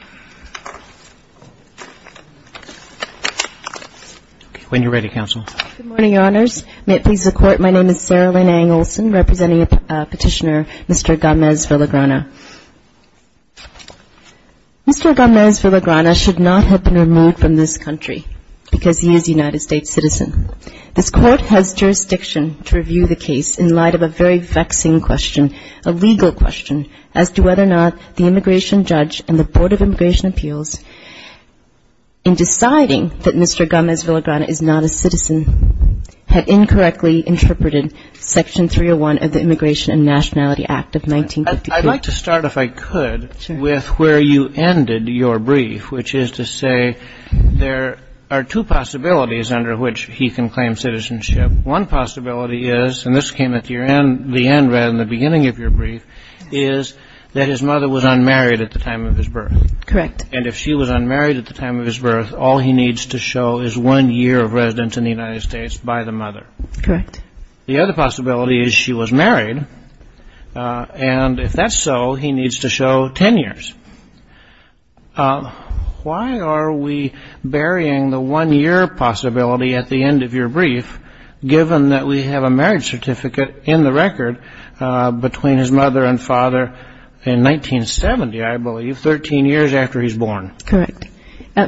Mr. Gomez-Villagrana should not have been removed from this country because he is a United States citizen. This Court has jurisdiction to review the case in light of a very vexing question, a legal question, as to whether or not the immigration judge and the Board of Immigration Appeals, in deciding that Mr. Gomez-Villagrana is not a citizen, had incorrectly interpreted Section 301 of the Immigration and Nationality Act of 1958. I'd like to start, if I could, with where you ended your brief, which is to say there are two possibilities under which he can claim citizenship. One possibility is, and this came at the end rather than the beginning of your brief, is that his mother was unmarried at the time of his birth. Correct. And if she was unmarried at the time of his birth, all he needs to show is one year of residence in the United States by the mother. Correct. The other possibility is she was married, and if that's so, he needs to show ten years. Why are we burying the one-year possibility at the end of your brief, given that we have a marriage certificate in the record between his mother and father in 1970, I believe, 13 years after he's born? Correct.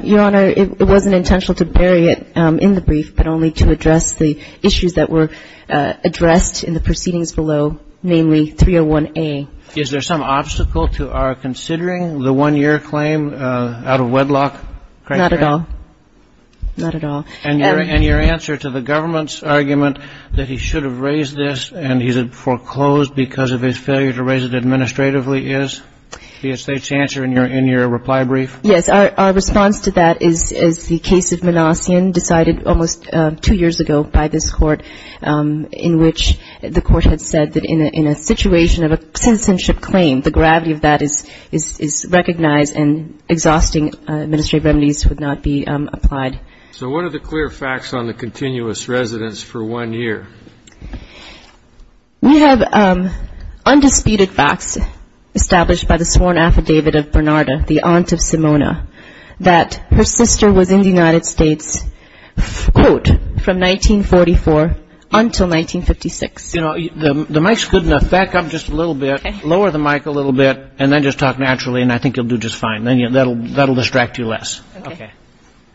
Your Honor, it wasn't intentional to bury it in the brief, but only to address the issues that were addressed in the proceedings below, namely 301A. Is there some obstacle to our considering the one-year claim out of wedlock criteria? Not at all. Not at all. And your answer to the government's argument that he should have raised this and he's foreclosed because of his failure to raise it administratively is the estate's answer in your reply brief? Yes. Our response to that is the case of Menassian, decided almost two years ago by this Court, in which the Court had said that in a situation of a citizenship claim, the gravity of that is recognized and exhausting administrative remedies would not be applied. So what are the clear facts on the continuous residence for one year? We have undisputed facts established by the sworn affidavit of Bernarda, the aunt of Simona, that her sister was in the United States, quote, from 1944 until 1956. You know, the mic's good enough. Back up just a little bit, lower the mic a little bit, and then just talk naturally, and I think you'll do just fine. That'll distract you less.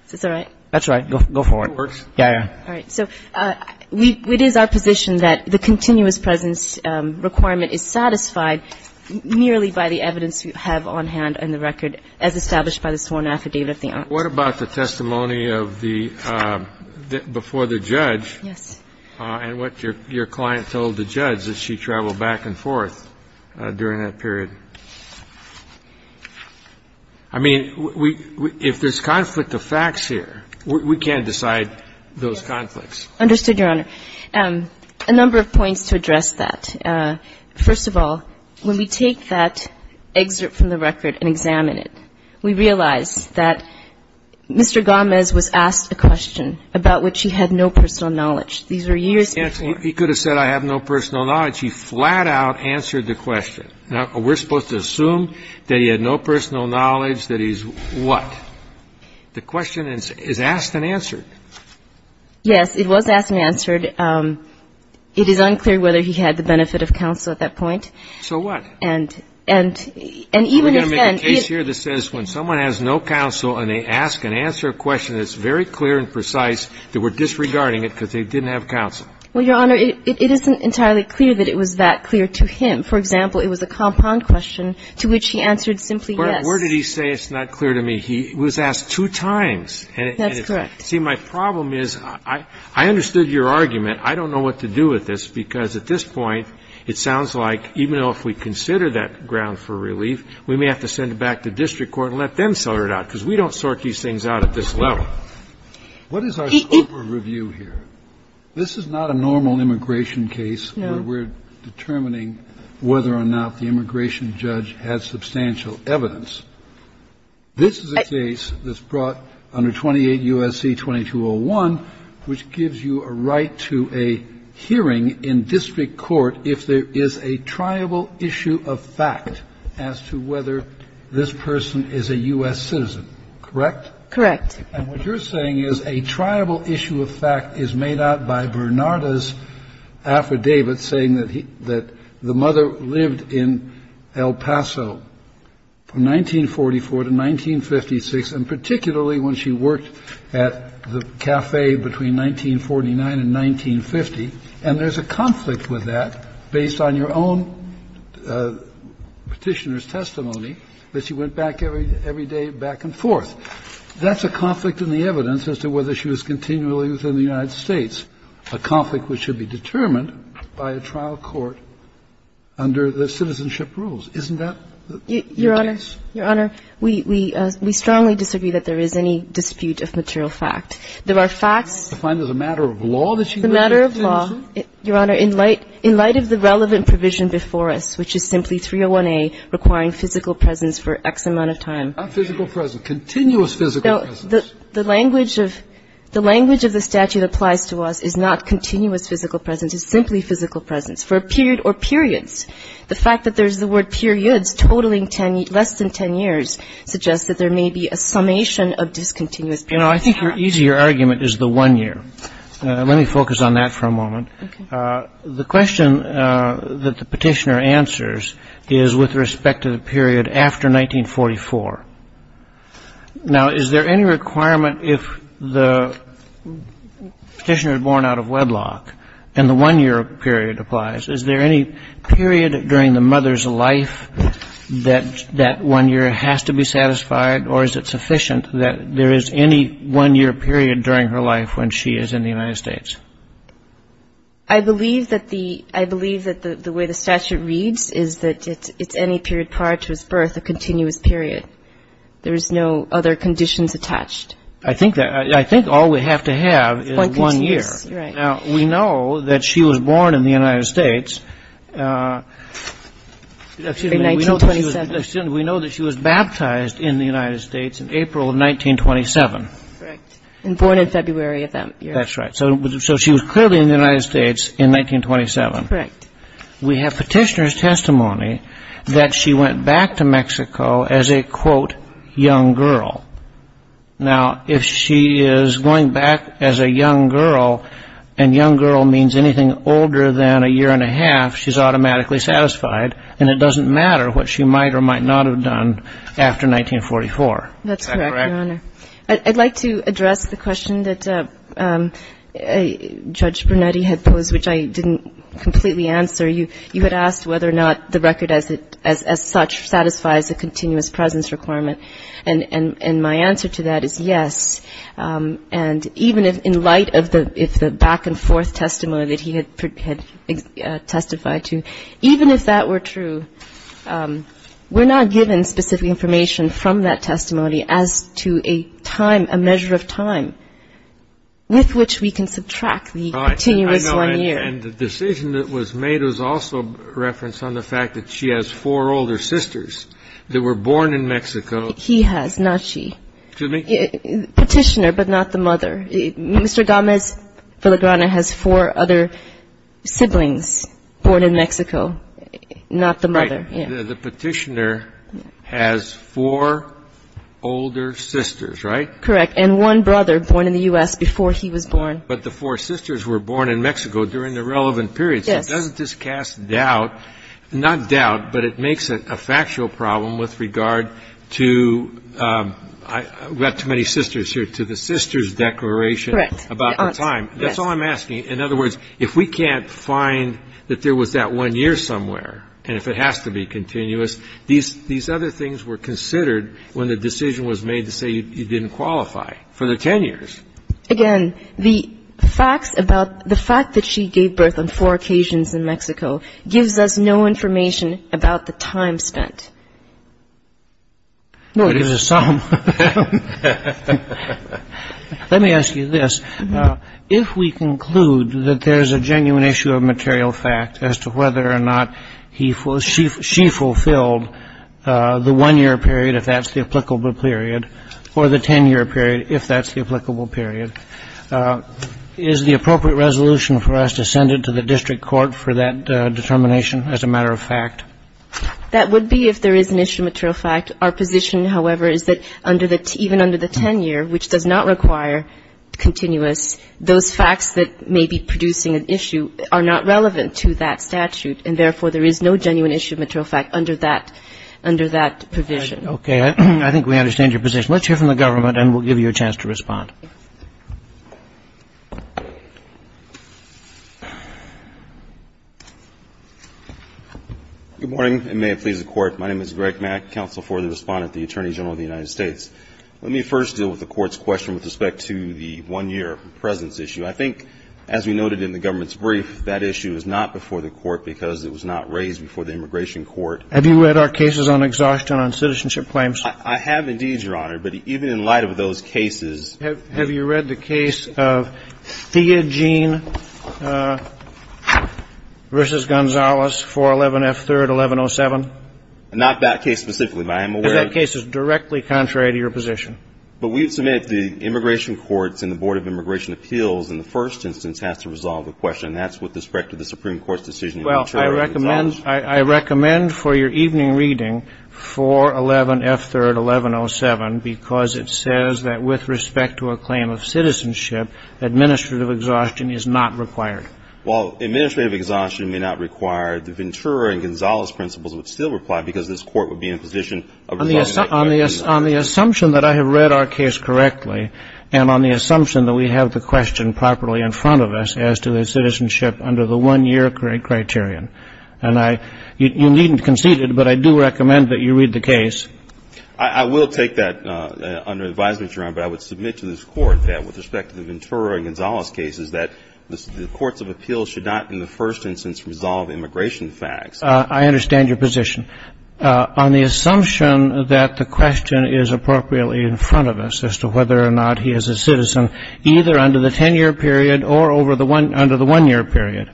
Is this all right? That's right. Go for it. It works? Yeah, yeah. All right. So it is our position that the continuous presence requirement is satisfied merely by the evidence we have on hand and the record as established by the sworn affidavit of the aunt. What about the testimony of the before the judge? Yes. And what your client told the judge, that she traveled back and forth during that period? I mean, if there's conflict of facts here, we can't decide those conflicts. Understood, Your Honor. A number of points to address that. First of all, when we take that excerpt from the record and examine it, we realize that Mr. Gomez was asked a question about which he had no personal knowledge. These were years before. He could have said I have no personal knowledge. He flat out answered the question. Now, we're supposed to assume that he had no personal knowledge, that he's what? The question is asked and answered. Yes, it was asked and answered. It is unclear whether he had the benefit of counsel at that point. And even if then... We're going to make a case here that says when someone has no counsel and they ask and answer a question that's very clear and precise, that we're disregarding it because they didn't have counsel. Well, Your Honor, it isn't entirely clear that it was that clear to him. For example, it was a compound question to which he answered simply yes. But where did he say it's not clear to me? He was asked two times. That's correct. See, my problem is I understood your argument. I don't know what to do with this because at this point it sounds like even though if we consider that ground for relief, we may have to send it back to district court and let them sort it out because we don't sort these things out at this level. What is our scope of review here? This is not a normal immigration case where we're going to have a case where the immigration judge has substantial evidence. This is a case that's brought under 28 U.S.C. 2201, which gives you a right to a hearing in district court if there is a triable issue of fact as to whether this person is a U.S. citizen, correct? Correct. And what you're saying is a triable issue of fact is made out by Bernarda's testimony that the mother lived in El Paso from 1944 to 1956, and particularly when she worked at the cafe between 1949 and 1950, and there's a conflict with that based on your own Petitioner's testimony that she went back every day back and forth. That's a conflict in the evidence as to whether she was continually within the United States, a conflict which should be determined by a trial court under the citizenship rules. Isn't that the case? Your Honor, we strongly disagree that there is any dispute of material fact. There are facts. I find it a matter of law that she lived in Tennessee. It's a matter of law, Your Honor, in light of the relevant provision before us, which is simply 301A requiring physical presence for X amount of time. Not physical presence. Continuous physical presence. The language of the statute applies to us is not continuous physical presence. It's simply physical presence. For a period or periods, the fact that there's the word periods totaling less than 10 years suggests that there may be a summation of discontinuous periods. I think your easier argument is the one year. Let me focus on that for a moment. The question that the Petitioner answers is with respect to the period after 1944. Now, is there any requirement if the Petitioner is born out of wedlock and the one year period applies, is there any period during the mother's life that that one year has to be satisfied or is it sufficient that there is any one year period during her life when she is in the United States? I believe that the way the statute reads is that it's any period prior to his birth a there's no other conditions attached. I think all we have to have is one year. We know that she was born in the United States in 1927. We know that she was baptized in the United States in April of 1927. And born in February of that year. That's right. So she was clearly in the United States in 1927. Correct. We have Petitioner's testimony that she went back to Mexico as a quote, young girl. Now, if she is going back as a young girl, and young girl means anything older than a year and a half, she's automatically satisfied. And it doesn't matter what she might or might not have done after 1944. That's correct, Your Honor. I'd like to address the question that Judge Brunetti had posed, which I didn't completely answer. You had asked whether or not the record as such satisfies a continuous presence requirement. And my answer to that is yes. And even in light of the back and forth testimony that he had testified to, even if that were true, we're not given specific information from that testimony as to a time, a measure of time with which we can subtract the continuous one year. And the decision that was made was also a reference on the fact that she has four older sisters that were born in Mexico. He has, not she. Petitioner, but not the mother. Mr. Gómez-Filigrana has four other siblings born in Mexico, not the mother. The Petitioner has four older sisters, right? Correct. And one brother born in the U.S. before he was born. But the four sisters were born in Mexico during the relevant period. Yes. So it doesn't just cast doubt, not doubt, but it makes it a factual problem with regard to, we have too many sisters here, to the sisters' declaration about the time. That's all I'm asking. In other words, if we can't find that there was that one year somewhere, and if it has to be continuous, these other things were considered when the decision was made to say you didn't qualify for the 10 years. Again, the facts about the fact that she gave birth on four occasions in Mexico gives us no information about the time spent. No, it is a sum. Let me ask you this. If we conclude that there's a genuine issue of material fact as to whether or not she fulfilled the one-year period, if that's the applicable period, or the 10-year period, if that's the applicable period, is the appropriate resolution for us to send it to the district court for that determination as a matter of fact? That would be if there is an issue of material fact. Our position, however, is that even under the 10-year, which does not require continuous, those facts that may be producing an issue are not relevant to that statute, and therefore, there is no genuine issue of material fact under that provision. Okay. I think we understand your position. Let's hear from the government, and we'll give you a chance to respond. Good morning, and may it please the Court. My name is Greg Mack, counsel for the Respondent, the Attorney General of the United States. Let me first deal with the Court's question with respect to the one-year presence issue. I think, as we noted in the government's brief, that issue is not before the Court because it was not raised before the Immigration Court. Have you read our cases on exhaustion on citizenship claims? I have, indeed, Your Honor, but even in light of those cases, Have you read the case of Theogene v. Gonzalez, 411 F. 3rd, 1107? Not that case specifically, but I am aware of that case. Because that case is directly contrary to your position. But we've submitted to the Immigration Courts and the Board of Immigration Appeals, and the first instance has to resolve the question. That's with respect to the Supreme Court's decision in Materia V. Gonzalez. Well, I recommend for your evening reading, 411 F. 3rd, 1107, because it says that with respect to a claim of citizenship, administrative exhaustion is not required. While administrative exhaustion may not require it, the Ventura and Gonzalez principles would still apply because this Court would be in a position of resolving the claim. On the assumption that I have read our case correctly, and on the assumption that we have the question properly in front of us as to the citizenship under the one-year criterion, and I you needn't concede it, but I do recommend that you read the case. I will take that under advisement, Your Honor, but I would submit to this Court that with respect to the Ventura and Gonzalez cases, that the courts of appeals should not in the first instance resolve immigration facts. I understand your position. On the assumption that the question is appropriately in front of us as to whether or not he is a citizen, either under the 10-year period or over the one under the one-year period,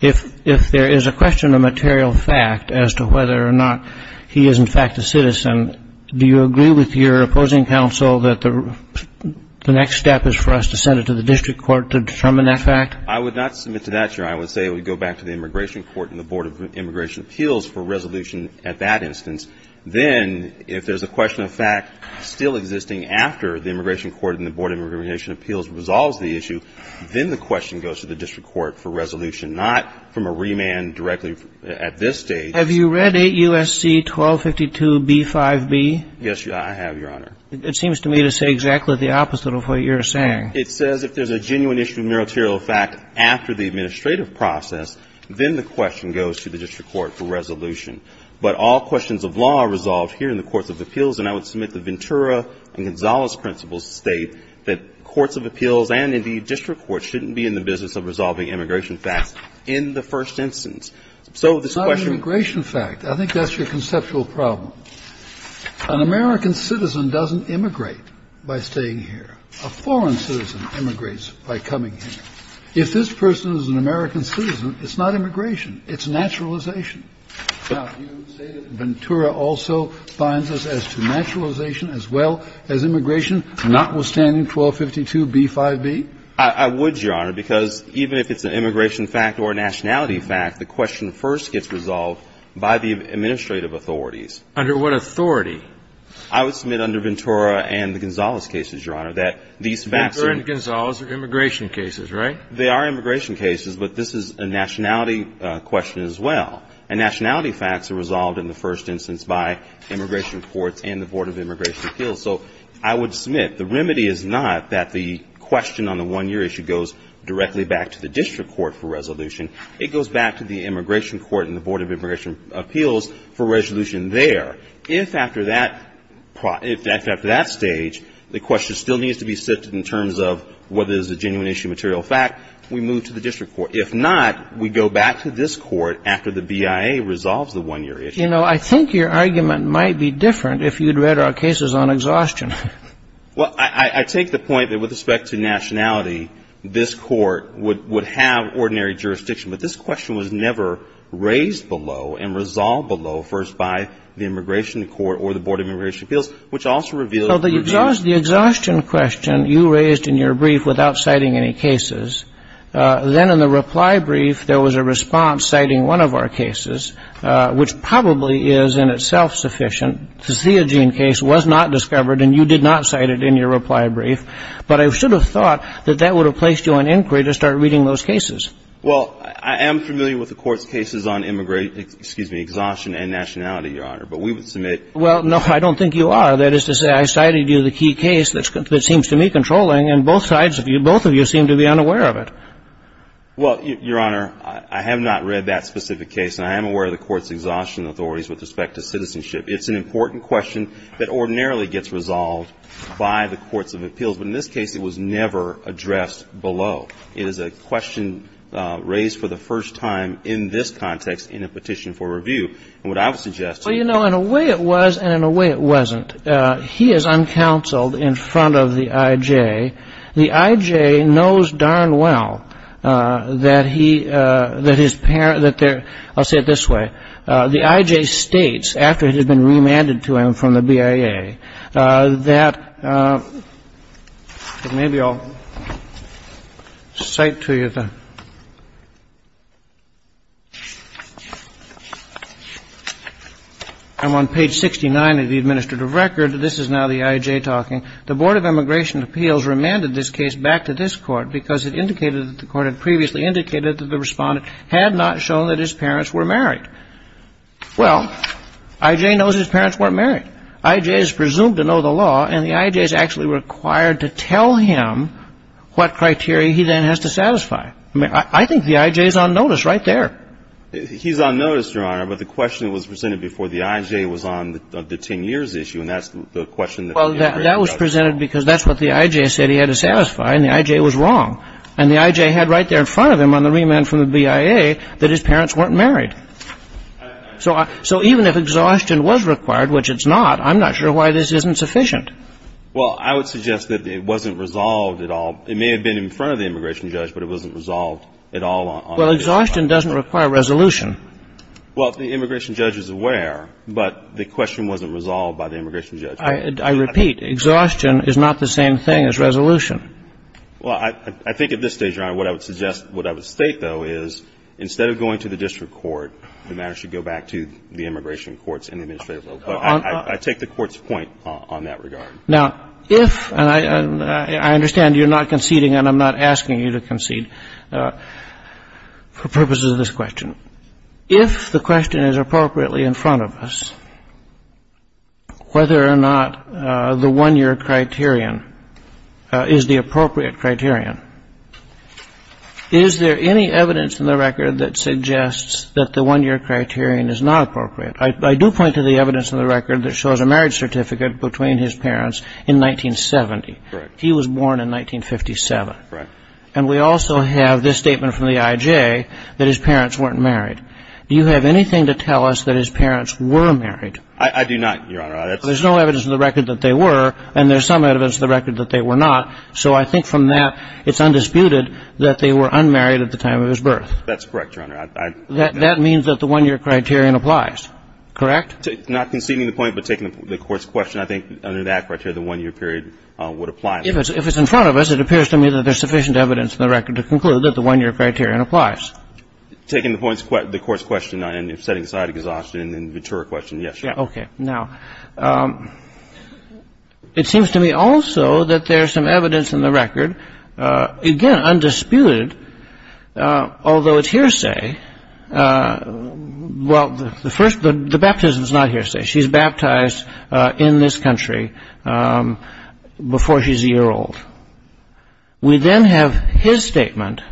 if there is a question of material fact as to whether or not he is in fact a citizen, do you agree with your opposing counsel that the next step is for us to send it to the district court to determine that fact? I would not submit to that, Your Honor. I would say we go back to the immigration court and the Board of Immigration Appeals for resolution at that instance. Then, if there is a question of fact still existing after the immigration court and the Board of Immigration Appeals resolves the issue, then the question goes to the district court for resolution, not from a remand directly at this stage. Have you read 8 U.S.C. 1252b-5b? Yes, I have, Your Honor. It seems to me to say exactly the opposite of what you're saying. It says if there is a genuine issue of material fact after the administrative process, then the question goes to the district court for resolution. But all questions of law are resolved here in the courts of appeals, and I would submit that Ventura and Gonzalez principles state that courts of appeals and, indeed, district courts shouldn't be in the business of resolving immigration facts in the first instance. So this question of fact is not an immigration fact. I think that's your conceptual problem. An American citizen doesn't immigrate by staying here. A foreign citizen immigrates by coming here. If this person is an American citizen, it's not immigration. It's naturalization. Now, you say that Ventura also finds this as to naturalization as well as immigration, notwithstanding 1252b-5b? I would, Your Honor, because even if it's an immigration fact or a nationality fact, the question first gets resolved by the administrative authorities. Under what authority? I would submit under Ventura and the Gonzalez cases, Your Honor, that these facts are immigration cases, right? They are immigration cases, but this is a nationality question as well. And nationality facts are resolved in the first instance by immigration courts and the Board of Immigration Appeals. So I would submit the remedy is not that the question on the one-year issue goes directly back to the district court for resolution. It goes back to the immigration court and the Board of Immigration Appeals for resolution there. If after that stage, the question still needs to be sifted in terms of whether it is a genuine issue, material fact, we move to the district court. If not, we go back to this court after the BIA resolves the one-year issue. You know, I think your argument might be different if you had read our cases on exhaustion. Well, I take the point that with respect to nationality, this court would have said, you know, this is not an ordinary jurisdiction, but this question was never raised below and resolved below first by the immigration court or the Board of Immigration Appeals, which also reveals the reason. Well, the exhaustion question you raised in your brief without citing any cases, then in the reply brief, there was a response citing one of our cases, which probably is in itself sufficient to see a gene case was not discovered, and you did not cite it in your reply brief. But I should have thought that that would have placed you on inquiry to start reading those cases. Well, I am familiar with the Court's cases on immigration – excuse me, exhaustion and nationality, Your Honor, but we would submit… Well, no, I don't think you are. That is to say, I cited you the key case that seems to me controlling, and both sides of you, both of you seem to be unaware of it. Well, Your Honor, I have not read that specific case, and I am aware of the Court's exhaustion authorities with respect to citizenship. It's an important question that ordinarily gets resolved by the courts of appeals, but in this case, it was never addressed below. It is a question raised for the first time in this context in a petition for review. And what I would suggest to you… Well, you know, in a way it was and in a way it wasn't. He is uncounseled in front of the I.J. The I.J. knows darn well that he… that his… I'll say it this way. The I.J. states, after it has been remanded to him from the BIA, that… maybe I'll cite to you the… I'm on page 69 of the administrative record. This is now the I.J. talking. The Board of Immigration and Appeals remanded this case back to this Court because it indicated that the Court had previously indicated that the Respondent had not shown that his parents were married. Well, I.J. knows his parents weren't married. I.J. is presumed to know the law, and the I.J. is actually required to tell him what criteria he then has to satisfy. I mean, I think the I.J. is on notice right there. He's on notice, Your Honor, but the question was presented before the I.J. was on the 10 years issue, and that's the question that… Well, that was presented because that's what the I.J. said he had to satisfy, and the I.J. was wrong. And the I.J. had right there in front of him on the remand from the BIA that his parents weren't married. So even if exhaustion was required, which it's not, I'm not sure why this isn't sufficient. Well, I would suggest that it wasn't resolved at all. It may have been in front of the immigration judge, but it wasn't resolved at all. Well, exhaustion doesn't require resolution. Well, the immigration judge is aware, but the question wasn't resolved by the immigration judge. I repeat, exhaustion is not the same thing as resolution. Well, I think at this stage, Your Honor, what I would suggest, what I would state, though, is instead of going to the district court, the matter should go back to the immigration courts and the administrative level. But I take the court's point on that regard. Now, if, and I understand you're not conceding, and I'm not asking you to concede for purposes of this question. If the question is appropriately in front of us, whether or not the 1-year criterion is the appropriate criterion, is there any evidence in the record that suggests that the 1-year criterion is not appropriate? I do point to the evidence in the record that shows a marriage certificate between his parents in 1970. Correct. He was born in 1957. Correct. And we also have this statement from the I.J. that his parents weren't married. Do you have anything to tell us that his parents were married? I do not, Your Honor. There's no evidence in the record that they were, and there's some evidence in the record that they were not. So I think from that, it's undisputed that they were unmarried at the time of his birth. That's correct, Your Honor. That means that the 1-year criterion applies, correct? Not conceding the point, but taking the court's question, I think under that criteria, the 1-year period would apply. If it's in front of us, it appears to me that there's sufficient evidence in the record to conclude that the 1-year criterion applies. Taking the court's question and setting aside exhaustion and the mature question, yes, Your Honor. Okay. Now, it seems to me also that there's some evidence in the record, again, undisputed, although it's hearsay. Well, the baptism's not hearsay. She's baptized in this country before she's a year old. We then have his statement.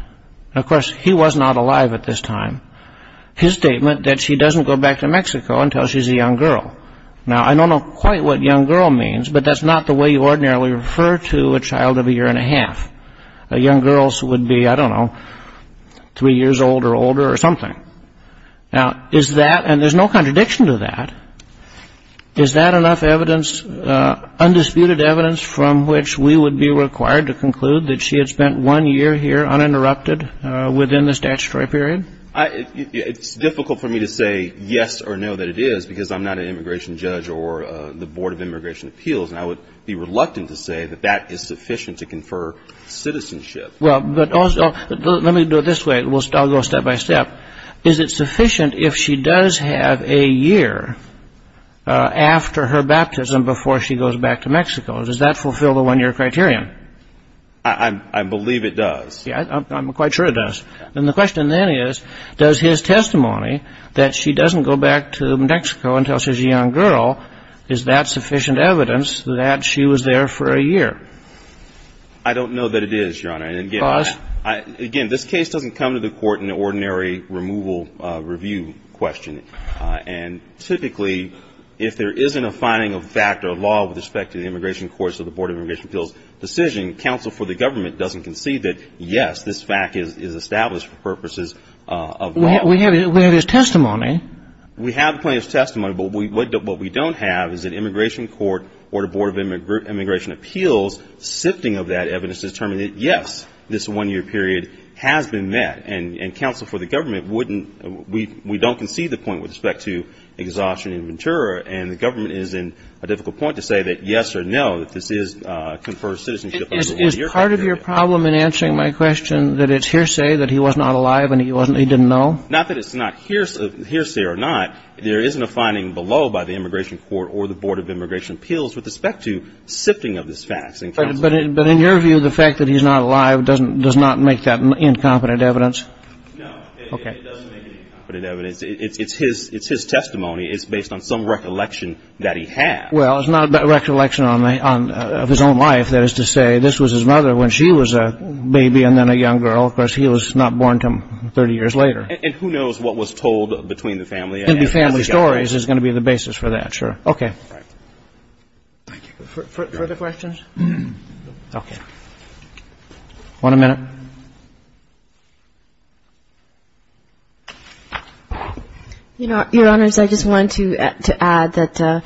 Of course, he was not alive at this time. His statement that she doesn't go back to Mexico until she's a young girl. Now, I don't know quite what young girl means, but that's not the way you ordinarily refer to a child of a year and a half. Young girls would be, I don't know, three years old or older or something. Now, is that, and there's no contradiction to that, is that enough evidence, undisputed evidence from which we would be required to conclude that she had spent one year here uninterrupted within the statutory period? It's difficult for me to say yes or no that it is because I'm not an immigration judge or the Board of Immigration Appeals, and I would be reluctant to say that that is sufficient to confer citizenship. Well, but also, let me do it this way. I'll go step by step. Is it sufficient if she does have a year after her baptism before she goes back to Mexico? Does that fulfill the one-year criterion? I believe it does. Yeah, I'm quite sure it does. And the question then is, does his testimony that she doesn't go back to Mexico until she's a young girl, is that sufficient evidence that she was there for a year? I don't know that it is, Your Honor. And again, this case doesn't come to the court in an ordinary removal review question. And typically, if there isn't a finding of fact or law with respect to the immigration courts or the Board of Immigration Appeals decision, counsel for the government doesn't concede that, yes, this fact is established for purposes of law. We have his testimony. We have the plaintiff's testimony, but what we don't have is an immigration court or the Board of Immigration Appeals sifting of that evidence to determine that, yes, this one-year period has been met. And counsel for the government wouldn't – we don't concede the point with respect to exhaustion and ventura, and the government is in a difficult point to say that yes or no, that this is conferred citizenship over a one-year period. Is part of your problem in answering my question that it's hearsay that he was not alive and he wasn't – he didn't know? Not that it's not hearsay or not. There isn't a finding below by the immigration court or the Board of Immigration Appeals with respect to sifting of this fact. But in your view, the fact that he's not alive doesn't – does not make that incompetent evidence? No, it doesn't make it incompetent evidence. It's his – it's his testimony. It's based on some recollection that he had. Well, it's not a recollection on the – of his own life. That is to say, this was his mother when she was a baby and then a young girl. Of course, he was not born until 30 years later. And who knows what was told between the family? It's going to be family stories is going to be the basis for that, sure. Okay. Thank you. Further questions? Okay. One a minute. Your Honor, I just wanted to add that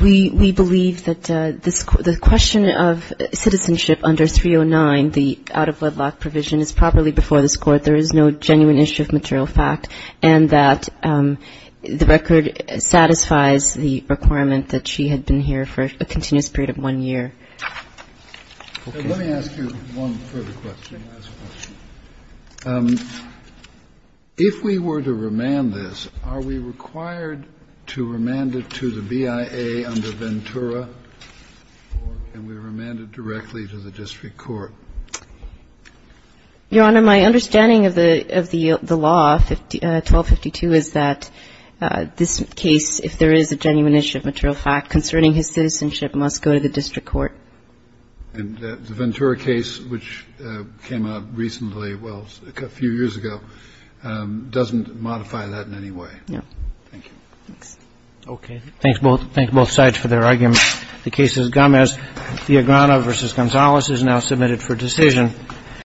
we believe that this – the question of citizenship under 309, the out-of-wedlock provision, is properly before this Court. There is no genuine issue of material fact, and that the record satisfies the requirement that she had been here for a continuous period of one year. Okay. Let me ask you one further question, last question. If we were to remand this, are we required to remand it to the BIA under Ventura, or can we remand it directly to the district court? Your Honor, my understanding of the law, 1252, is that this case, if there is a genuine issue of material fact concerning his citizenship, must go to the district court. And the Ventura case, which came out recently, well, a few years ago, doesn't modify that in any way. No. Thank you. Thanks. Okay. Thanks, both. Thanks, both sides, for their arguments. The case is Gomez-Diagrano v. Gonzalez is now submitted for decision.